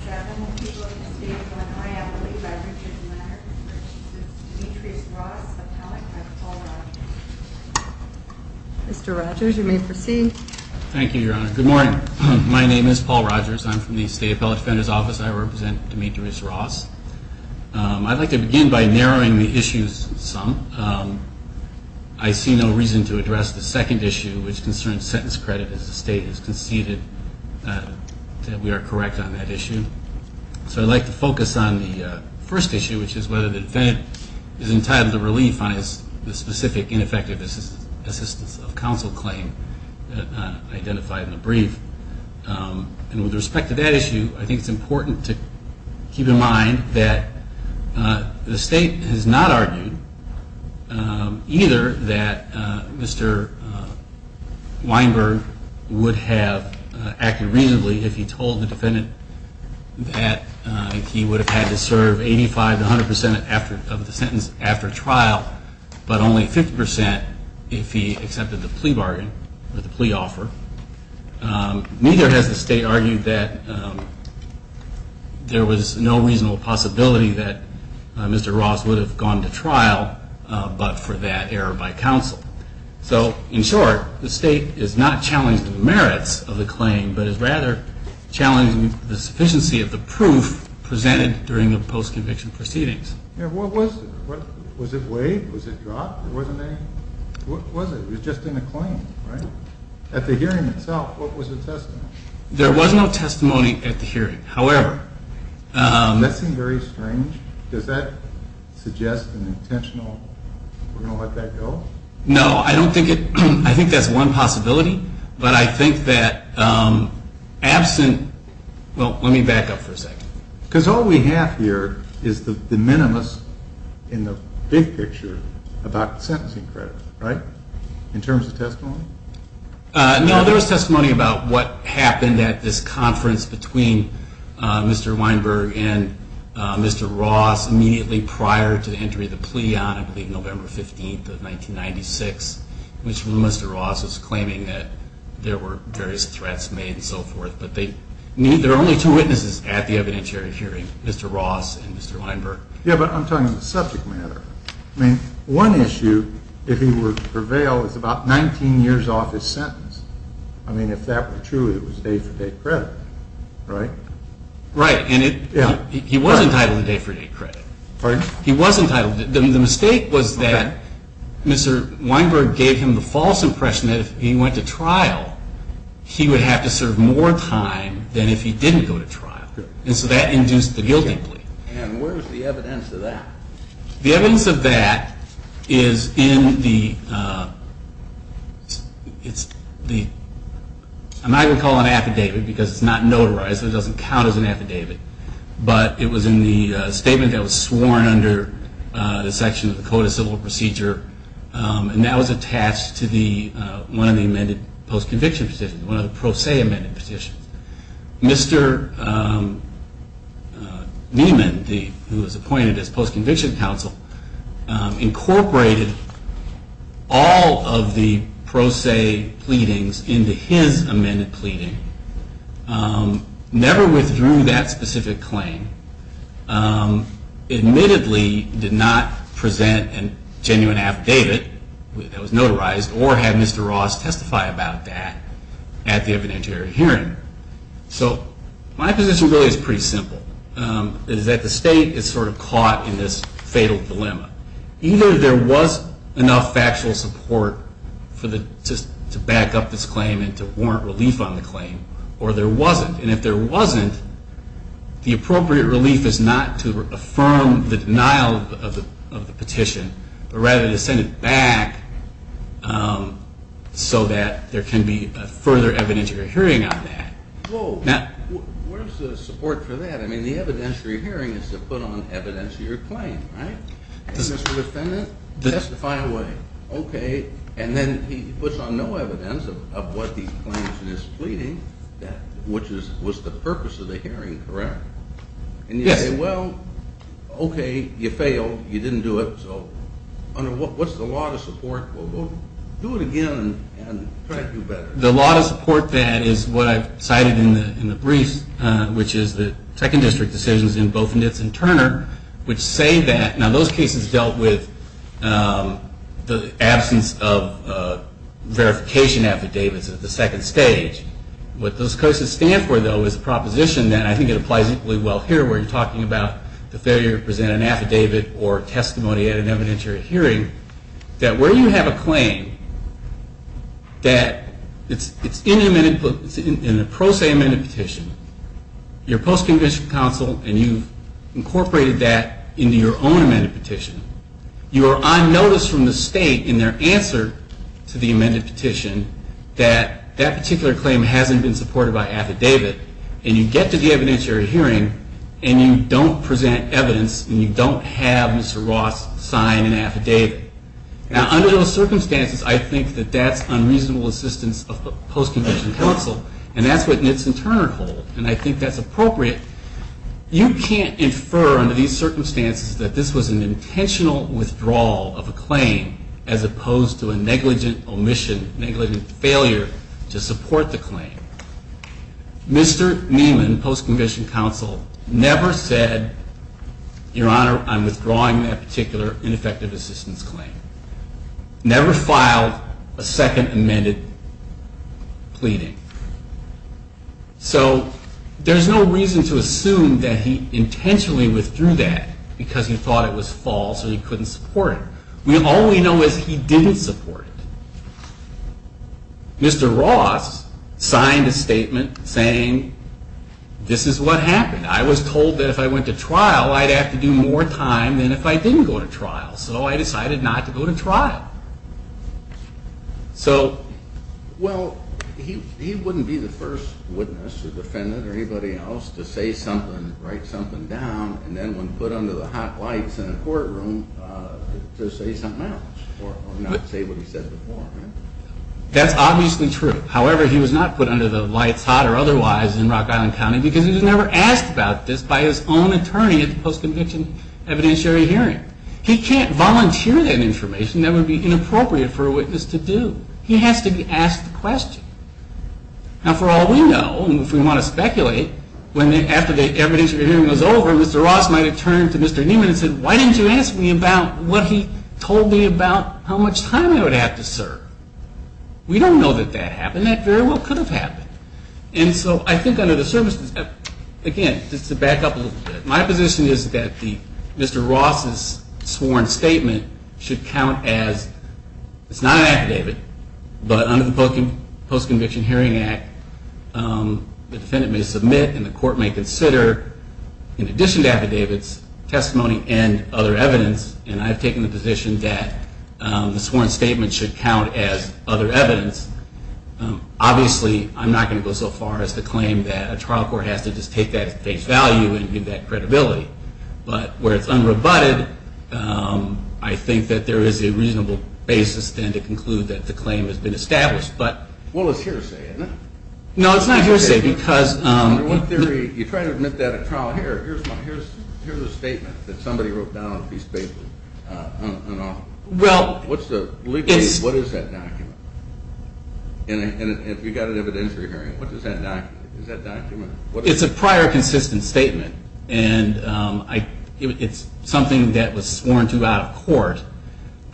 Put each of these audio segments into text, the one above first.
I believe I've reached a letter, it's Demetrius Ross, appellate, by Paul Rogers. Mr. Rogers, you may proceed. Thank you, Your Honor. Good morning. My name is Paul Rogers. I'm from the State Appellate Defender's Office. I represent Demetrius Ross. I'd like to begin by narrowing the issues some. I see no reason to address the second issue, which concerns sentence credit, as the State has conceded that we are correct on that issue. So I'd like to focus on the first issue, which is whether the defendant is entitled to relief on his specific ineffective assistance of counsel claim identified in the brief. And with respect to that issue, I think it's important to keep in mind that the State has not argued either that Mr. Weinberg would have acted reasonably if he told the defendant that he would have had to serve 85 to 100 percent of the sentence after trial, but only 50 percent if he accepted the plea bargain or the plea offer. Neither has the State argued that there was no reasonable possibility that Mr. Ross would have gone to trial but for that error by counsel. So, in short, the State is not challenging the merits of the claim, but is rather challenging the sufficiency of the proof presented during the post-conviction proceedings. What was it? Was it waived? Was it dropped? Was it just in the claim, right? At the hearing itself, what was the testimony? There was no testimony at the hearing, however. That seemed very strange. Does that suggest an intentional, we're going to let that go? No, I don't think it – I think that's one possibility, but I think that absent – well, let me back up for a second. Because all we have here is the minimus in the big picture about sentencing credit, right? In terms of testimony? No, there was testimony about what happened at this conference between Mr. Weinberg and Mr. Ross immediately prior to the entry of the plea on, I believe, November 15th of 1996, when Mr. Ross was claiming that there were various threats made and so forth. But there are only two witnesses at the evidentiary hearing, Mr. Ross and Mr. Weinberg. Yeah, but I'm talking about the subject matter. I mean, one issue, if he were to prevail, is about 19 years off his sentence. I mean, if that were true, it was day-for-day credit, right? Right, and he was entitled to day-for-day credit. Pardon? He was entitled. The mistake was that Mr. Weinberg gave him the false impression that if he went to trial, he would have to serve more time than if he didn't go to trial. And so that induced the guilty plea. And where's the evidence of that? The evidence of that is in the – I'm not going to call it an affidavit because it's not notarized and it doesn't count as an affidavit. But it was in the statement that was sworn under the section of the Code of Civil Procedure, and that was attached to one of the amended post-conviction petitions, one of the pro se amended petitions. Mr. Niemann, who was appointed as post-conviction counsel, incorporated all of the pro se pleadings into his amended pleading. Never withdrew that specific claim. Admittedly did not present a genuine affidavit that was notarized or have Mr. Ross testify about that at the evidentiary hearing. So my position really is pretty simple. It is that the state is sort of caught in this fatal dilemma. Either there was enough factual support to back up this claim and to warrant relief on the claim, or there wasn't. And if there wasn't, the appropriate relief is not to affirm the denial of the petition, but rather to send it back so that there can be further evidentiary hearing on that. Well, where's the support for that? I mean, the evidentiary hearing is to put on evidence your claim, right? Mr. Defendant, testify away. Okay. And then he puts on no evidence of what the plaintiff is pleading, which was the purpose of the hearing, correct? Yes. And you say, well, okay, you failed. You didn't do it. So under what's the law to support? Well, do it again and try to do better. The law to support that is what I've cited in the brief, which is the second district decisions in both Nitz and Turner, which say that now those cases dealt with the absence of verification affidavits at the second stage. What those cases stand for, though, is a proposition that I think it applies equally well here, where you're talking about the failure to present an affidavit or testimony at an evidentiary hearing, that where you have a claim that it's in a pro se amended petition, you're post-conviction counsel and you've incorporated that into your own amended petition, you are on notice from the state in their answer to the amended petition that that particular claim hasn't been supported by affidavit, and you get to the evidentiary hearing and you don't present evidence and you don't have Mr. Ross sign an affidavit. Now, under those circumstances, I think that that's unreasonable assistance of post-conviction counsel, and that's what Nitz and Turner hold, and I think that's appropriate. You can't infer under these circumstances that this was an intentional withdrawal of a claim as opposed to a negligent omission, negligent failure to support the claim. Mr. Neiman, post-conviction counsel, never said, Your Honor, I'm withdrawing that particular ineffective assistance claim. Never filed a second amended pleading. So there's no reason to assume that he intentionally withdrew that because he thought it was false or he couldn't support it. All we know is he didn't support it. Mr. Ross signed a statement saying, This is what happened. I was told that if I went to trial, I'd have to do more time than if I didn't go to trial. So I decided not to go to trial. Well, he wouldn't be the first witness or defendant or anybody else to say something, write something down, and then when put under the hot lights in a courtroom to say something else or not say what he said before, right? That's obviously true. However, he was not put under the lights hot or otherwise in Rock Island County because he was never asked about this by his own attorney at the post-conviction evidentiary hearing. He can't volunteer that information. That would be inappropriate for a witness to do. He has to be asked the question. Now, for all we know, if we want to speculate, after the evidence hearing was over, Mr. Ross might have turned to Mr. Newman and said, Why didn't you ask me about what he told me about how much time I would have to serve? We don't know that that happened. That very well could have happened. And so I think under the circumstances, again, just to back up a little bit, my position is that Mr. Ross's sworn statement should count as It's not an affidavit, but under the Post-Conviction Hearing Act, the defendant may submit and the court may consider, in addition to affidavits, testimony and other evidence. And I've taken the position that the sworn statement should count as other evidence. Obviously, I'm not going to go so far as to claim that a trial court has to just take that at face value and give that credibility. But where it's unrebutted, I think that there is a reasonable basis then to conclude that the claim has been established. Well, it's hearsay, isn't it? No, it's not hearsay because In theory, you try to admit that at trial. Here's a statement that somebody wrote down on a piece of paper. Well, it's What is that document? And if you've got an evidentiary hearing, what is that document? It's a prior consistent statement, and it's something that was sworn to out of court.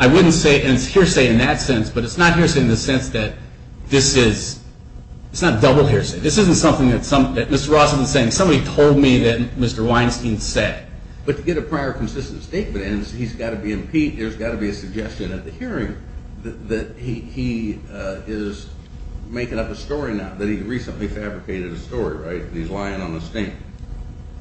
I wouldn't say it's hearsay in that sense, but it's not hearsay in the sense that this is It's not double hearsay. This isn't something that Mr. Ross isn't saying. Somebody told me that Mr. Weinstein said. But to get a prior consistent statement, there's got to be a suggestion at the hearing that he is making up a story now that he recently fabricated a story, right? That he's lying on a stink.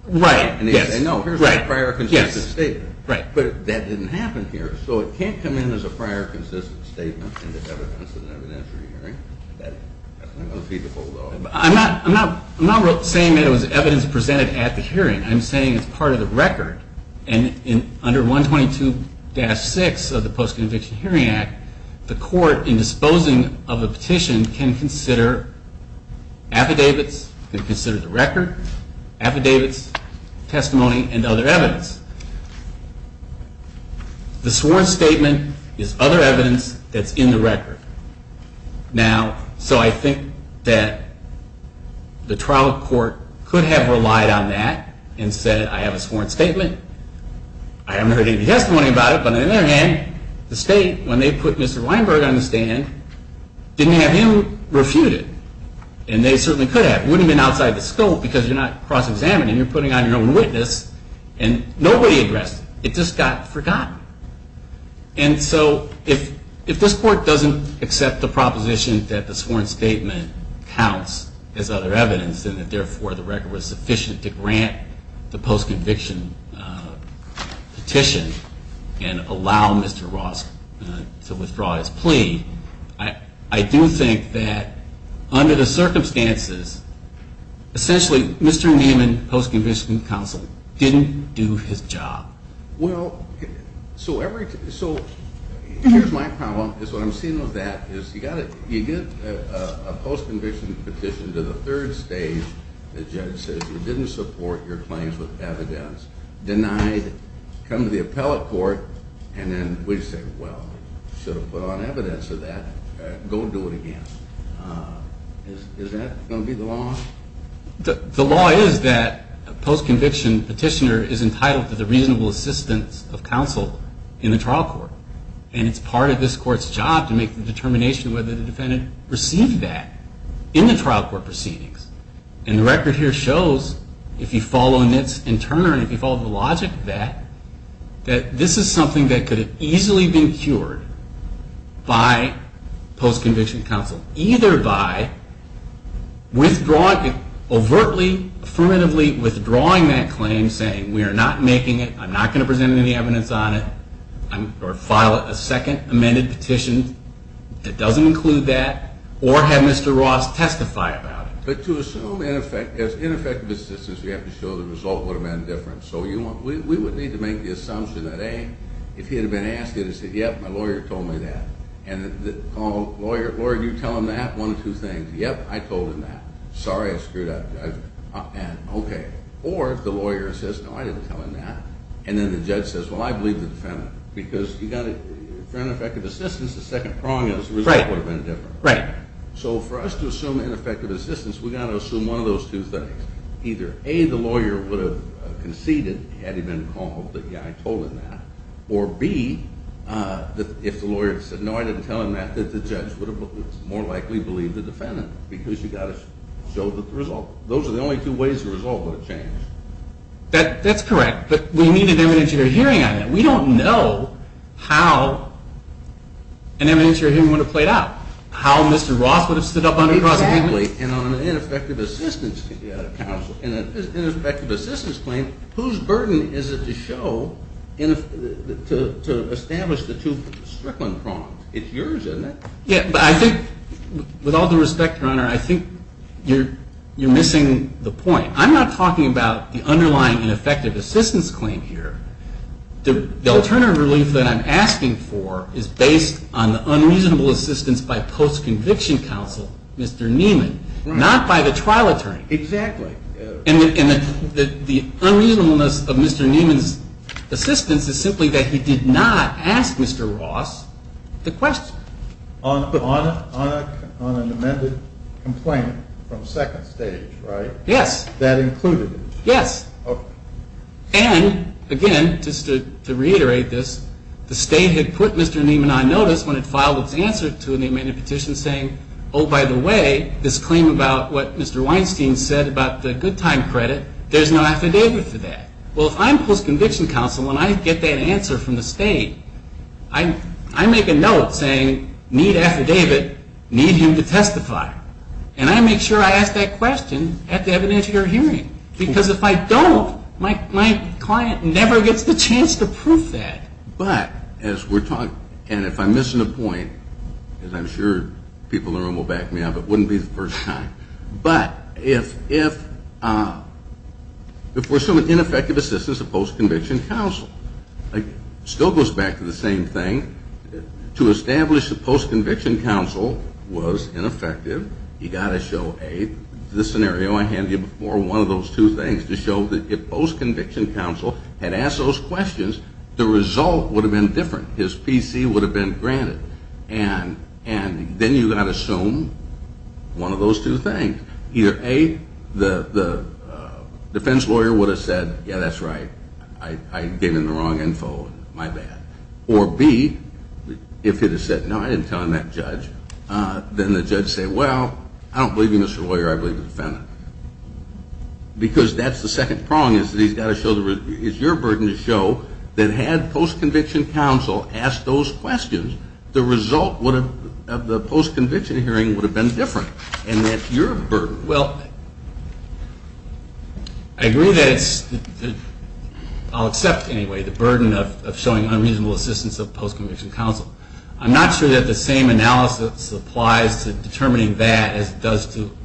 Right, yes. And he said, no, here's my prior consistent statement. But that didn't happen here. So it can't come in as a prior consistent statement in the evidence of an evidentiary hearing. That's not feasible, though. I'm not saying that it was evidence presented at the hearing. I'm saying it's part of the record. And under 122-6 of the Post-Conviction Hearing Act, the court, in disposing of a petition, can consider affidavits, can consider the record, affidavits, testimony, and other evidence. The sworn statement is other evidence that's in the record. Now, so I think that the trial court could have relied on that and said, I have a sworn statement. I haven't heard any testimony about it. But on the other hand, the state, when they put Mr. Weinberg on the stand, didn't have him refuted. And they certainly could have. It wouldn't have been outside the scope because you're not cross-examining. You're putting on your own witness. And nobody addressed it. It just got forgotten. And so if this court doesn't accept the proposition that the sworn statement counts as other evidence and that, therefore, the record was sufficient to grant the post-conviction petition and allow Mr. Ross to withdraw his plea, I do think that under the circumstances, essentially, Mr. Neiman, post-conviction counsel, didn't do his job. Well, so here's my problem is what I'm seeing with that is you get a post-conviction petition to the third stage, the judge says you didn't support your claims with evidence, denied, come to the appellate court, and then we say, well, you should have put on evidence of that. Go do it again. Is that going to be the law? The law is that a post-conviction petitioner is entitled to the reasonable assistance of counsel in the trial court. And it's part of this court's job to make the determination whether the defendant received that in the trial court proceedings. And the record here shows, if you follow Nitz and Turner and if you follow the logic of that, that this is something that could have easily been cured by post-conviction counsel, either by overtly, affirmatively withdrawing that claim, saying we are not making it, I'm not going to present any evidence on it, or file a second amended petition that doesn't include that, or have Mr. Ross testify about it. But to assume ineffective assistance, you have to show the result would have been different. So we would need to make the assumption that, A, if he had been asked, he would have said, yep, my lawyer told me that. And the lawyer, lawyer, you tell him that, one of two things. Yep, I told him that. Sorry, I screwed up. Okay. Or if the lawyer says, no, I didn't tell him that, and then the judge says, well, I believe the defendant. Because you've got to, for ineffective assistance, the second prong is the result would have been different. Right. So for us to assume ineffective assistance, we've got to assume one of those two things. Either, A, the lawyer would have conceded had he been called that, yeah, I told him that. Or, B, if the lawyer had said, no, I didn't tell him that, that the judge would have more likely believed the defendant. Because you've got to show the result. Those are the only two ways the result would have changed. That's correct. But we need an evidence of your hearing on that. We don't know how an evidence of your hearing would have played out, how Mr. Ross would have stood up on the cross-examination. And on an ineffective assistance claim, whose burden is it to show, to establish the two Strickland prongs? It's yours, isn't it? Yeah, but I think, with all due respect, Your Honor, I think you're missing the point. I'm not talking about the underlying ineffective assistance claim here. The alternative relief that I'm asking for is based on the unreasonable assistance by post-conviction counsel, Mr. Neiman, not by the trial attorney. Exactly. And the unreasonableness of Mr. Neiman's assistance is simply that he did not ask Mr. Ross the question. On an amended complaint from second stage, right? Yes. That included it? Yes. And, again, just to reiterate this, the State had put Mr. Neiman on notice when it filed its answer to an amended petition saying, oh, by the way, this claim about what Mr. Weinstein said about the good time credit, there's no affidavit for that. Well, if I'm post-conviction counsel and I get that answer from the State, I make a note saying, need affidavit, need him to testify. And I make sure I ask that question at the evidence of your hearing. Because if I don't, my client never gets the chance to prove that. But as we're talking, and if I'm missing a point, as I'm sure people in the room will back me up, it wouldn't be the first time. But if we're assuming ineffective assistance of post-conviction counsel, it still goes back to the same thing. To establish that post-conviction counsel was ineffective, you've got to show, A, the scenario I handed you before, one of those two things, to show that if post-conviction counsel had asked those questions, the result would have been different. His PC would have been granted. And then you've got to assume one of those two things. Either, A, the defense lawyer would have said, yeah, that's right, I gave him the wrong info, my bad. Or, B, if he had said, no, I didn't tell him that, judge, then the judge would say, well, I don't believe you, Mr. Lawyer, I believe the defendant. Because that's the second prong, is your burden to show that had post-conviction counsel asked those questions, the result of the post-conviction hearing would have been different. And that's your burden. Well, I agree that it's, I'll accept, anyway, the burden of showing unreasonable assistance of post-conviction counsel. I'm not sure that the same analysis applies to determining that as it does to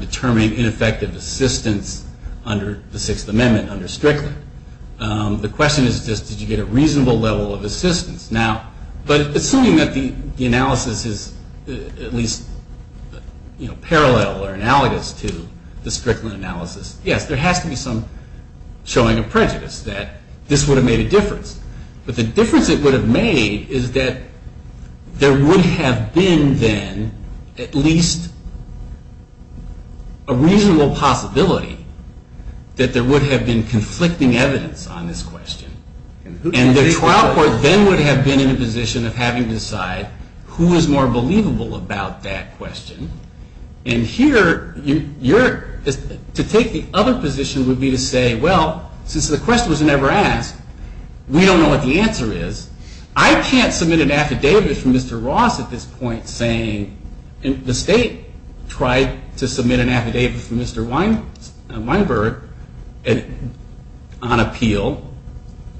determine ineffective assistance under the Sixth Amendment, under Strickland. The question is just, did you get a reasonable level of assistance? But assuming that the analysis is at least parallel or analogous to the Strickland analysis, yes, there has to be some showing of prejudice that this would have made a difference. But the difference it would have made is that there would have been then at least a reasonable possibility that there would have been conflicting evidence on this question. And the trial court then would have been in a position of having to decide who is more believable about that question. And here, to take the other position would be to say, well, since the question was never asked, we don't know what the answer is. I can't submit an affidavit from Mr. Ross at this point saying, the state tried to submit an affidavit from Mr. Weinberg on appeal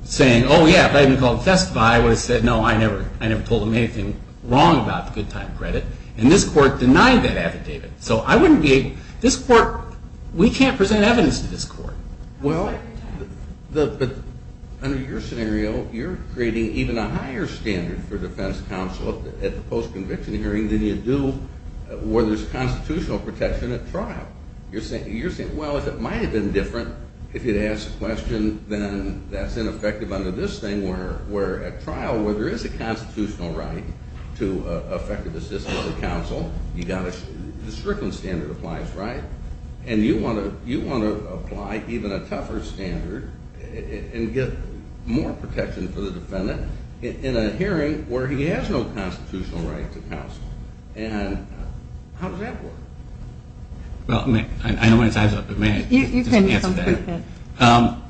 saying, oh, yeah, if I had been called to testify, I would have said, no, I never told him anything wrong about the good time credit. And this court denied that affidavit. So I wouldn't be able, this court, we can't present evidence to this court. Well, under your scenario, you're creating even a higher standard for defense counsel at the post-conviction hearing than you do where there's constitutional protection at trial. You're saying, well, if it might have been different if you'd asked the question, then that's ineffective under this thing where at trial, where there is a constitutional right to effective assistance to counsel, the Strickland standard applies, right? And you want to apply even a tougher standard and get more protection for the defendant in a hearing where he has no constitutional right to counsel. And how does that work? Well, I know my time's up, but may I just answer that? You can.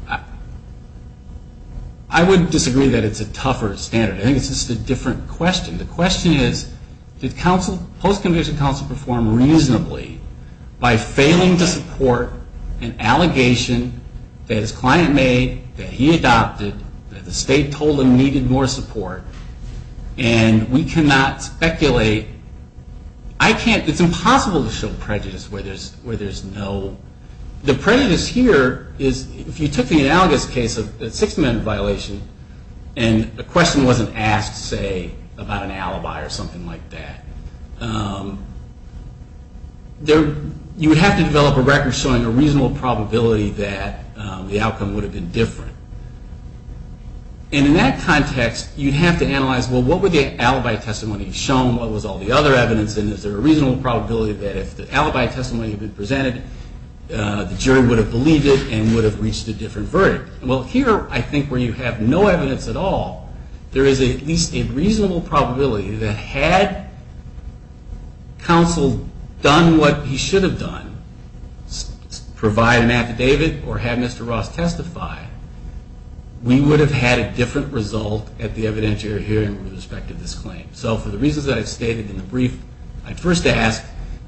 I would disagree that it's a tougher standard. I think it's just a different question. The question is, did post-conviction counsel perform reasonably by failing to support an allegation that his client made, that he adopted, that the state told him needed more support? And we cannot speculate. It's impossible to show prejudice where there's no. The prejudice here is if you took the analogous case of the Sixth Amendment violation and a question wasn't asked, say, about an alibi or something like that, you would have to develop a record showing a reasonable probability that the outcome would have been different. And in that context, you'd have to analyze, well, what would the alibi testimony have shown? What was all the other evidence? And is there a reasonable probability that if the alibi testimony had been presented, the jury would have believed it and would have reached a different verdict? Well, here, I think where you have no evidence at all, there is at least a reasonable probability that had counsel done what he should have done, provide an affidavit or have Mr. Ross testify, we would have had a different result at the evidentiary hearing with respect to this claim. So for the reasons that I've stated in the brief, I'd first ask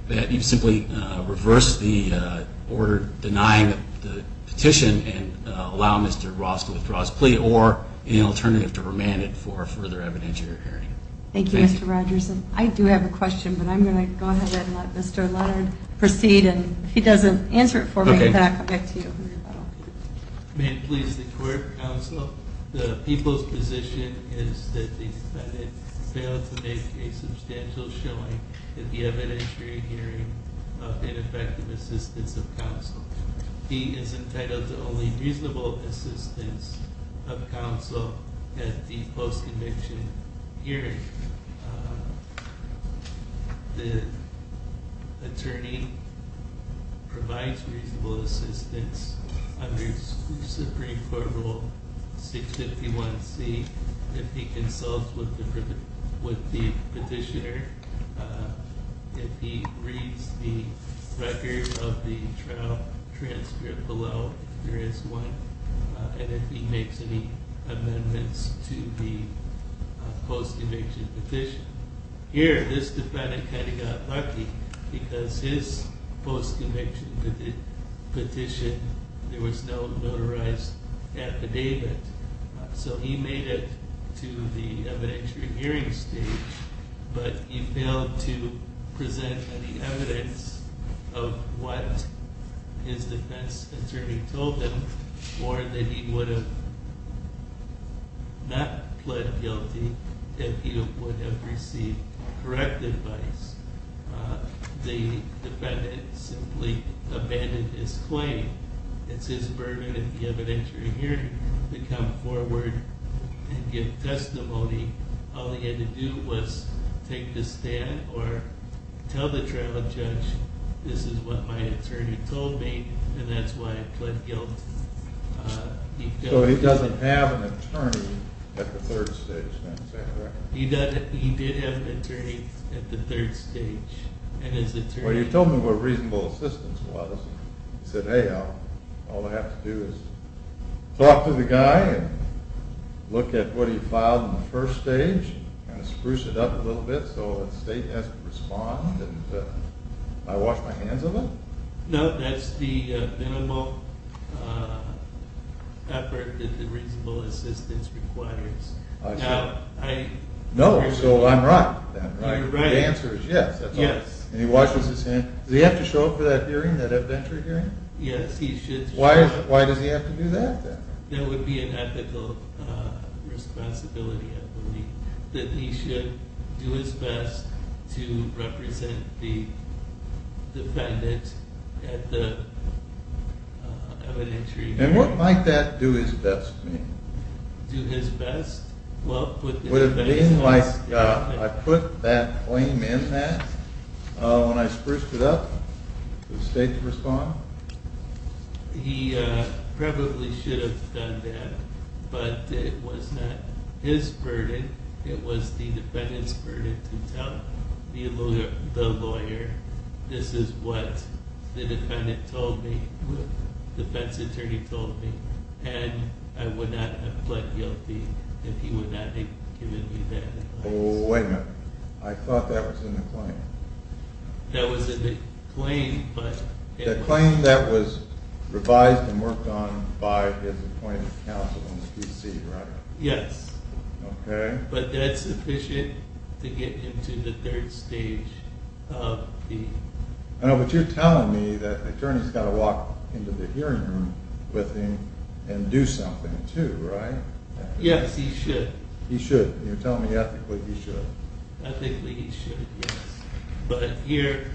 that you simply reverse the order denying the petition and allow Mr. Ross to withdraw his plea or any alternative to remand it for a further evidentiary hearing. Thank you, Mr. Rogers. I do have a question, but I'm going to go ahead and let Mr. Leonard proceed. And if he doesn't answer it for me, then I'll come back to you. May it please the court, counsel, the people's position is that the defendant failed to make a substantial showing at the evidentiary hearing of ineffective assistance of counsel. He is entitled to only reasonable assistance of counsel at the post-conviction hearing. The attorney provides reasonable assistance under Supreme Court Rule 651C. If he consults with the petitioner, if he reads the record of the trial transcript below, and if he makes any amendments to the post-conviction petition. Here, this defendant kind of got lucky because his post-conviction petition, there was no notarized affidavit. So he made it to the evidentiary hearing stage, but he failed to present any evidence of what his defense attorney told him or that he would have not pled guilty if he would have received correct advice. The defendant simply abandoned his claim. It's his burden at the evidentiary hearing to come forward and give testimony. All he had to do was take the stand or tell the trial judge, this is what my attorney told me and that's why I pled guilt. So he doesn't have an attorney at the third stage, is that correct? He did have an attorney at the third stage. Well, you told me what reasonable assistance was. You said, hey, all I have to do is talk to the guy and look at what he filed in the first stage, kind of spruce it up a little bit so the state has to respond. Did I wash my hands of it? No, that's the minimal effort that the reasonable assistance requires. I see. No, so I'm right then. You're right. The answer is yes, that's all. Yes. And he washes his hands. Does he have to show up for that hearing, that evidentiary hearing? Yes, he should show up. Why does he have to do that then? That would be an ethical responsibility, I believe, that he should do his best to represent the defendant at the evidentiary hearing. And what might that do his best mean? Do his best? Would it mean like I put that claim in that when I spruced it up for the state to respond? He probably should have done that, but it was not his burden. It was the defendant's burden to tell the lawyer this is what the defendant told me, the defense attorney told me, and I would not have pled guilty if he would not have given me that advice. Wait a minute. I thought that was in the claim. That was in the claim, but it was not. The claim that was revised and worked on by his appointed counsel in the PC, right? Yes. Okay. But that's sufficient to get him to the third stage of the... I know, but you're telling me that the attorney's got to walk into the hearing room with him and do something too, right? Yes, he should. He should. You're telling me ethically he should. Ethically he should, yes. But here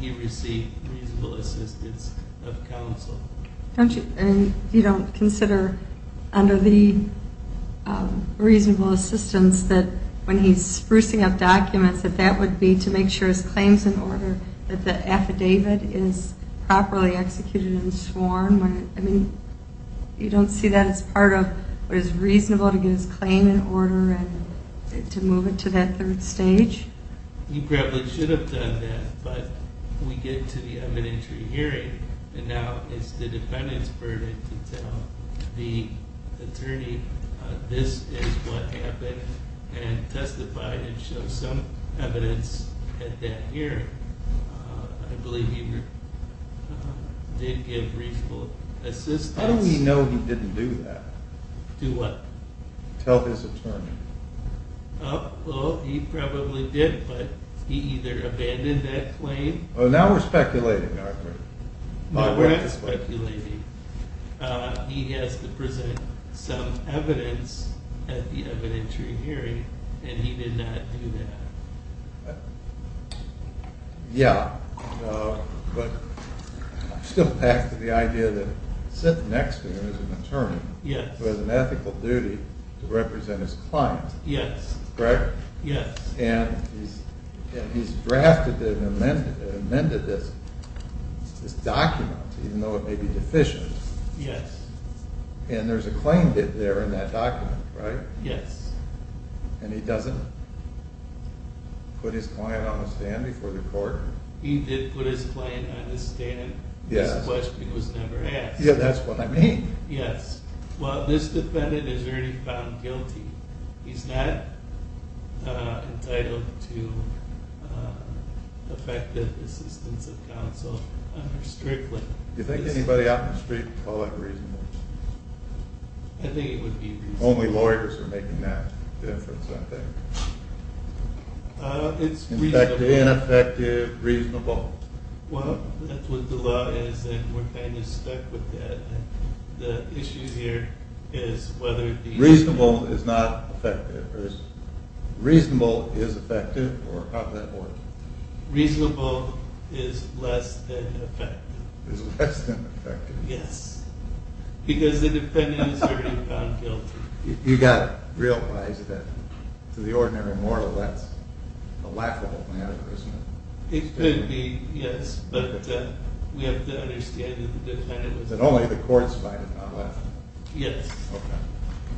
he received reasonable assistance of counsel. And you don't consider under the reasonable assistance that when he's sprucing up documents that that would be to make sure his claim's in order, that the affidavit is properly executed and sworn? I mean, you don't see that as part of what is reasonable to get his claim in order and to move it to that third stage? He probably should have done that, but we get to the evidentiary hearing and now it's the defendant's burden to tell the attorney this is what happened and testify and show some evidence at that hearing. I believe he did give reasonable assistance. How do we know he didn't do that? Do what? Tell his attorney. Well, he probably did, but he either abandoned that claim. Now we're speculating, aren't we? No, we're not speculating. He has to present some evidence at the evidentiary hearing, and he did not do that. Yeah, but I'm still packed with the idea that sitting next to him is an attorney who has an ethical duty to represent his client. Yes. Correct? Yes. And he's drafted and amended this document, even though it may be deficient. Yes. And there's a claim there in that document, right? Yes. And he doesn't put his client on the stand before the court? He did put his client on the stand. Yes. This question was never asked. Yeah, that's what I mean. Yes. Well, this defendant is already found guilty. He's not entitled to effective assistance of counsel, strictly. Do you think anybody out in the street would call that reasonable? I think it would be reasonable. Only lawyers are making that difference, I think. It's reasonable. Ineffective, reasonable. Well, that's what the law is, and we're kind of stuck with that. The issue here is whether it be— Reasonable is not effective. Reasonable is effective, or how does that work? Reasonable is less than effective. Is less than effective. Yes. Because the defendant is already found guilty. You've got to realize that, to the ordinary moralist, that's a laughable metaphor, isn't it? It could be, yes. But we have to understand that the defendant was— And only the courts fight about that. Yes.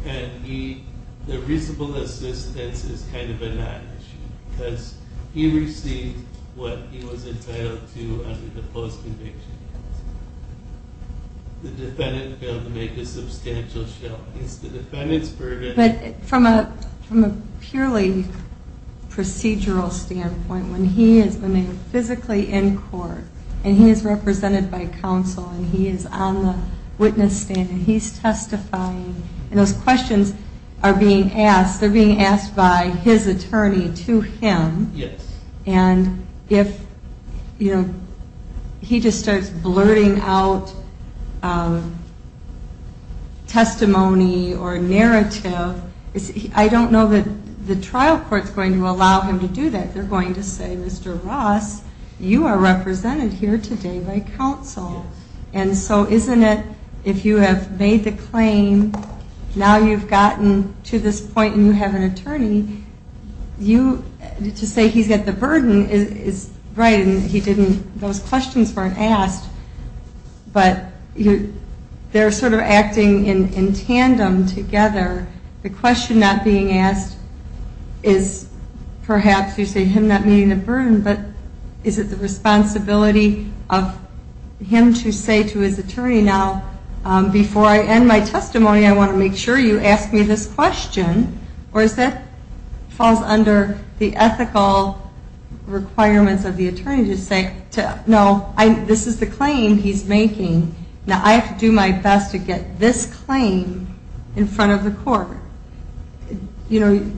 Okay. And the reasonable assistance is kind of a not issue, because he received what he was entitled to under the post-conviction counsel. The defendant failed to make a substantial show. It's the defendant's burden. But from a purely procedural standpoint, when he is physically in court and he is represented by counsel and he is on the witness stand and he's testifying and those questions are being asked, they're being asked by his attorney to him. Yes. And if, you know, he just starts blurting out testimony or narrative, I don't know that the trial court is going to allow him to do that. They're going to say, Mr. Ross, you are represented here today by counsel. Yes. And so isn't it, if you have made the claim, now you've gotten to this point and you have an attorney, to say he's got the burden is right and those questions weren't asked, but they're sort of acting in tandem together. The question not being asked is perhaps you say him not meeting the burden, but is it the responsibility of him to say to his attorney, now, before I end my testimony, I want to make sure you ask me this question, or is that falls under the ethical requirements of the attorney to say, no, this is the claim he's making. Now, I have to do my best to get this claim in front of the court. You know,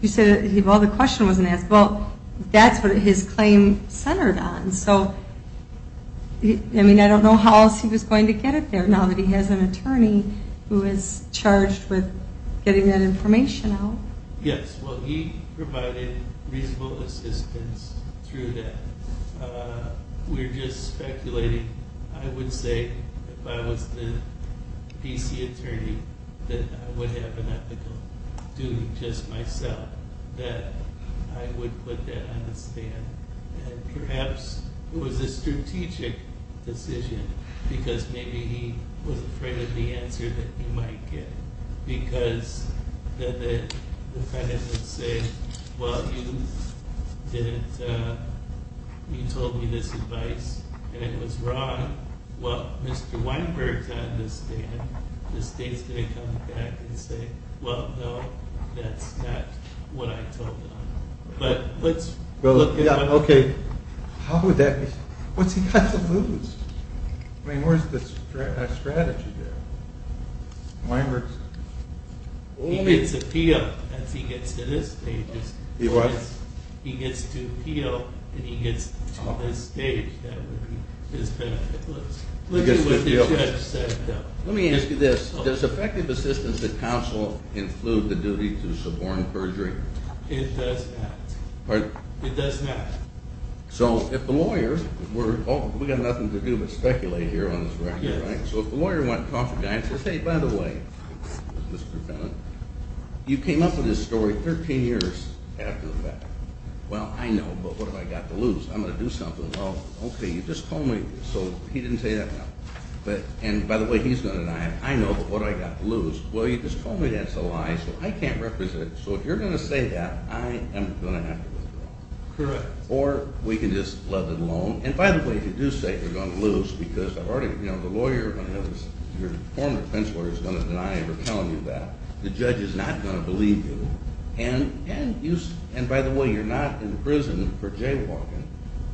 you say, well, the question wasn't asked. Well, that's what his claim centered on. I mean, I don't know how else he was going to get it there, now that he has an attorney who is charged with getting that information out. Yes. Well, he provided reasonable assistance through that. We're just speculating. I would say if I was the D.C. attorney that I would have an ethical duty, just myself, that I would put that on the stand. Perhaps it was a strategic decision because maybe he was afraid of the answer that he might get because the defendant would say, well, you told me this advice and it was wrong. Well, Mr. Weinberg's on the stand. The state's going to come back and say, well, no, that's not what I told him. Okay. How would that be? What's he got to lose? I mean, where's the strategy there? Weinberg's on the stand. He gets a P.O. as he gets to this stage. He what? He gets to P.O. and he gets to this stage. That would be his benefit. Let's look at what the judge said. Let me ask you this. Does effective assistance to counsel include the duty to suborn perjury? It does not. Pardon? It does not. So if the lawyer were to go, we've got nothing to do but speculate here on this record, right? Yeah. So if the lawyer went and talked to the guy and said, hey, by the way, Mr. Defendant, you came up with this story 13 years after the fact. Well, I know, but what have I got to lose? I'm going to do something. Well, okay, you just told me. So he didn't say that? No. And by the way, he's going to deny it. I know, but what have I got to lose? Well, you just told me that's a lie, so I can't represent. So if you're going to say that, I am going to have to lose. Correct. Or we can just let it alone. And by the way, if you do say you're going to lose because the lawyer, your former defense lawyer, is going to deny ever telling you that, the judge is not going to believe you. And by the way, you're not in prison for jaywalking,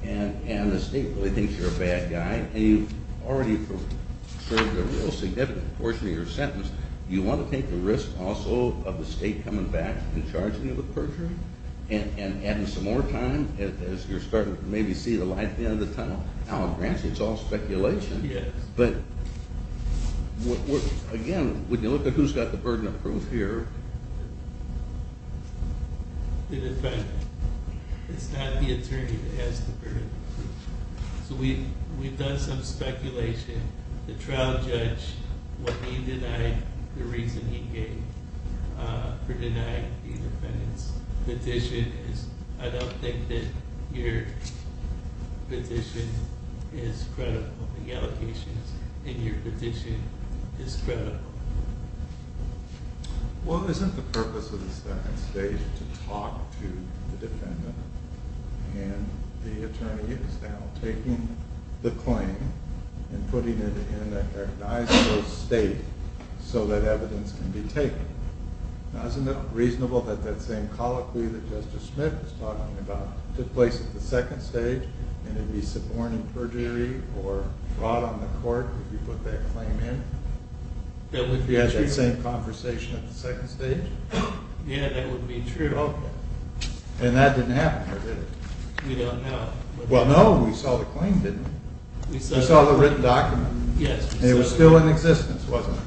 and the state really thinks you're a bad guy, and you've already served a real significant portion of your sentence. Do you want to take the risk also of the state coming back and charging you with perjury and adding some more time as you're starting to maybe see the light at the end of the tunnel? Now, granted, it's all speculation. Yes. But again, when you look at who's got the burden of proof here. In effect, it's not the attorney that has the burden of proof. So we've done some speculation. The trial judge, what he denied, the reason he gave for denying the defendant's petition is, I don't think that your petition is credible, the allocations in your petition is credible. Well, isn't the purpose of the second stage to talk to the defendant? And the attorney is now taking the claim and putting it in a recognizable state so that evidence can be taken. Now, isn't it reasonable that that same colloquy that Justice Smith was talking about took place at the second stage, and it'd be suborning perjury or brought on the court if you put that claim in? You ask me the same conversation at the second stage? Yeah, that would be true. And that didn't happen, or did it? We don't know. Well, no, we saw the claim didn't we? We saw the written document. Yes. And it was still in existence, wasn't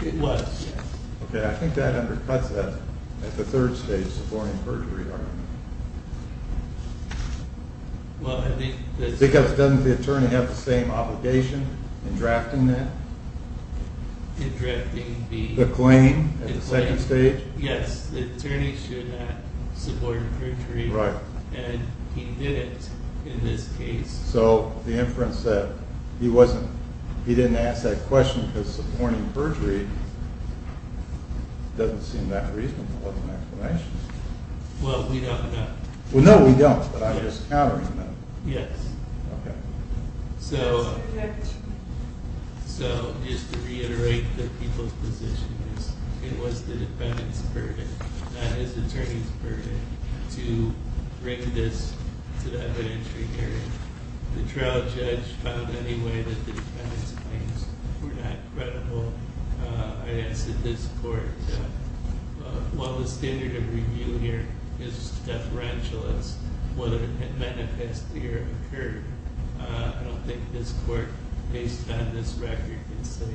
it? It was, yes. Okay, I think that undercuts that at the third stage, suborning perjury argument. Well, I think... Because doesn't the attorney have the same obligation in drafting that? In drafting the... The claim at the second stage? Yes, the attorney should not suborn perjury, and he didn't in this case. So the inference that he didn't ask that question because suborning perjury doesn't seem that reasonable as an explanation. Well, we don't know. Well, no, we don't, but I'm just countering that. Yes. Okay. So just to reiterate the people's position, it was the defendant's burden, not his attorney's burden, to bring this to the evidentiary hearing. The trial judge found anyway that the defendant's claims were not credible. I ask that this court, while the standard of review here is deferential as whether it had manifested or occurred, I don't think this court, based on this record, can say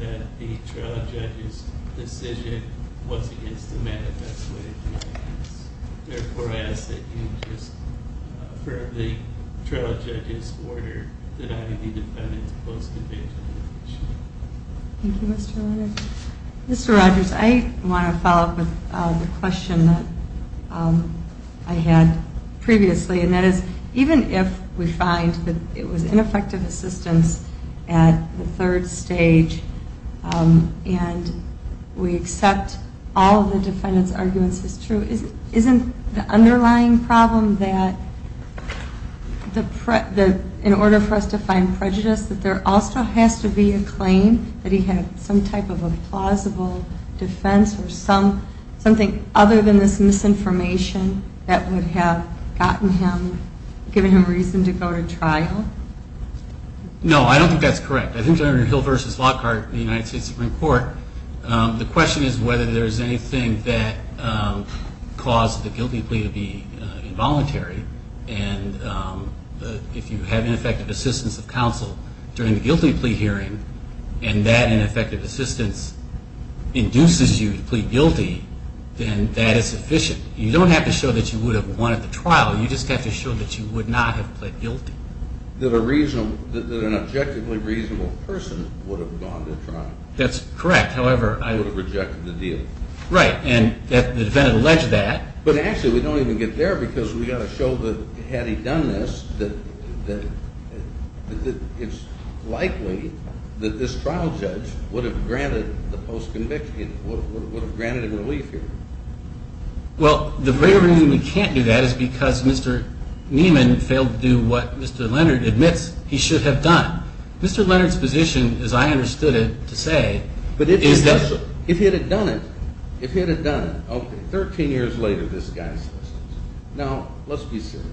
that the trial judge's decision was against the manifest way of doing things. Thank you, Mr. Rodgers. Mr. Rodgers, I want to follow up with the question that I had previously, and that is, even if we find that it was ineffective assistance at the third stage and we accept all of the defendant's arguments as true, isn't the underlying problem that in order for us to find prejudice that there also has to be a claim that he had some type of a plausible defense or something other than this misinformation that would have gotten him, given him reason to go to trial? No, I don't think that's correct. I think during Hill v. Lockhart, the United States Supreme Court, the question is whether there is anything that caused the guilty plea to be involuntary. And if you have ineffective assistance of counsel during the guilty plea hearing, and that ineffective assistance induces you to plead guilty, then that is sufficient. You don't have to show that you would have won at the trial. You just have to show that you would not have pled guilty. That an objectively reasonable person would have gone to trial. That's correct. However, I would have rejected the deal. Right, and the defendant alleged that. But actually, we don't even get there because we've got to show that had he done this, that it's likely that this trial judge would have granted the post-conviction, would have granted him relief here. Well, the very reason we can't do that is because Mr. Nieman failed to do what Mr. Leonard admits he should have done. Mr. Leonard's position, as I understood it to say, is that… But if he had done it, if he had done it, okay, 13 years later, this guy says this. Now, let's be serious.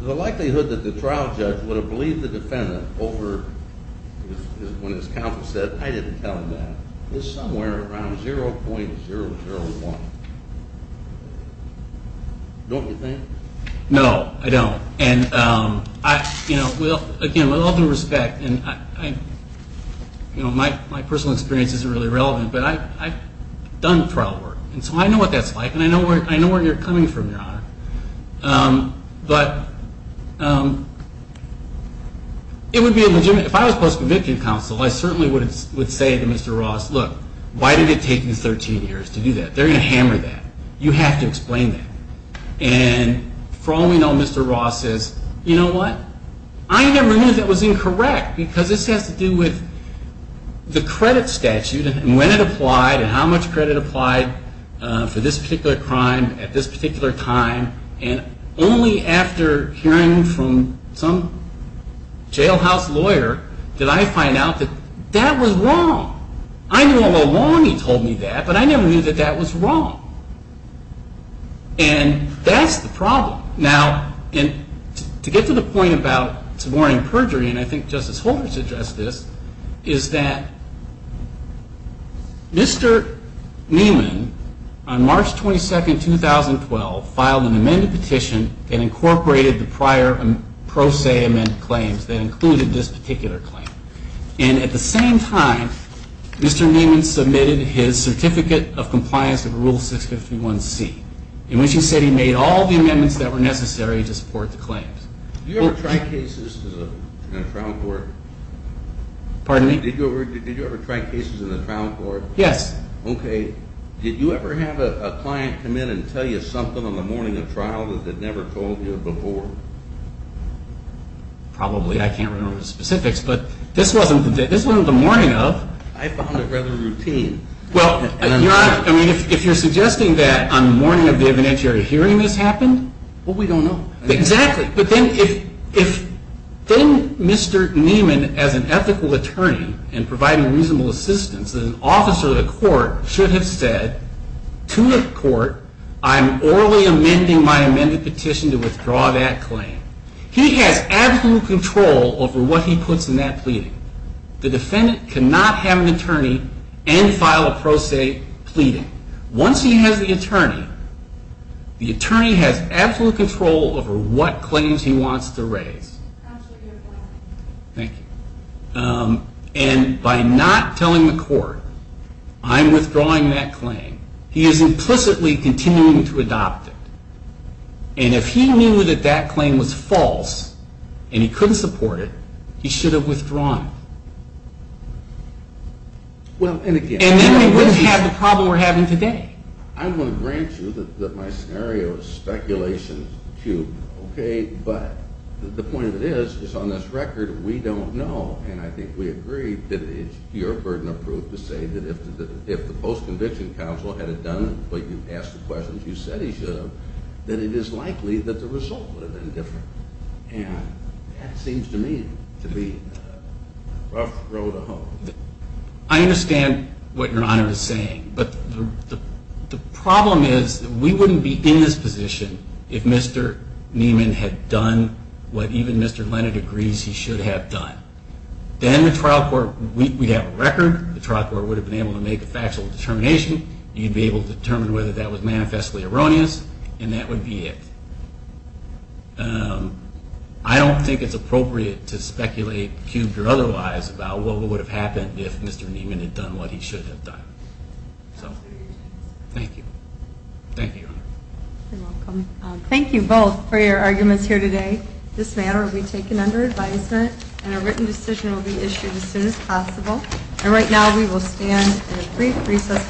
The likelihood that the trial judge would have believed the defendant over when his counsel said, I didn't tell him that, is somewhere around 0.001. Don't you think? No, I don't. And, you know, again, with all due respect, and my personal experience isn't really relevant, but I've done trial work, and so I know what that's like, and I know where you're coming from, Your Honor. But it would be a legitimate, if I was post-conviction counsel, I certainly would say to Mr. Ross, look, why did it take you 13 years to do that? They're going to hammer that. You have to explain that. And for all we know, Mr. Ross says, you know what? I never knew that was incorrect because this has to do with the credit statute and when it applied and how much credit applied for this particular crime at this particular time, and only after hearing from some jailhouse lawyer did I find out that that was wrong. I knew all along he told me that, but I never knew that that was wrong. And that's the problem. Now, to get to the point about suborning perjury, and I think Justice Holder has addressed this, is that Mr. Neiman, on March 22, 2012, filed an amended petition that incorporated the prior pro se amended claims that included this particular claim. And at the same time, Mr. Neiman submitted his Certificate of Compliance of Rule 651C, in which he said he made all the amendments that were necessary to support the claims. Did you ever try cases in a trial court? Pardon me? Did you ever try cases in a trial court? Yes. Okay. Did you ever have a client come in and tell you something on the morning of trial that they'd never told you before? Probably. I can't remember the specifics, but this wasn't the morning of. I found it rather routine. Well, if you're suggesting that on the morning of the evidentiary hearing this happened, well, we don't know. Exactly. But then if Mr. Neiman, as an ethical attorney and providing reasonable assistance, an officer of the court should have said to the court, I'm orally amending my amended petition to withdraw that claim. He has absolute control over what he puts in that pleading. The defendant cannot have an attorney and file a pro se pleading. Once he has the attorney, the attorney has absolute control over what claims he wants to raise. Absolutely right. Thank you. And by not telling the court, I'm withdrawing that claim, he is implicitly continuing to adopt it. And if he knew that that claim was false and he couldn't support it, he should have withdrawn it. Well, and again, And then we wouldn't have the problem we're having today. I want to grant you that my scenario is speculation-cubed, okay? But the point of it is, is on this record, we don't know. And I think we agree that it's your burden of proof to say that if the post-conviction counsel had it done, but you asked the questions, you said he should have, that it is likely that the result would have been different. And that seems to me to be the rough road to home. I understand what Your Honor is saying, but the problem is that we wouldn't be in this position if Mr. Neiman had done what even Mr. Leonard agrees he should have done. Then the trial court, we'd have a record. The trial court would have been able to make a factual determination. You'd be able to determine whether that was manifestly erroneous, and that would be it. I don't think it's appropriate to speculate-cubed or otherwise about what would have happened if Mr. Neiman had done what he should have done. So, thank you. Thank you, Your Honor. You're welcome. Thank you both for your arguments here today. This matter will be taken under advisement, and a written decision will be issued as soon as possible. And right now we will stand for a brief recess for appeals.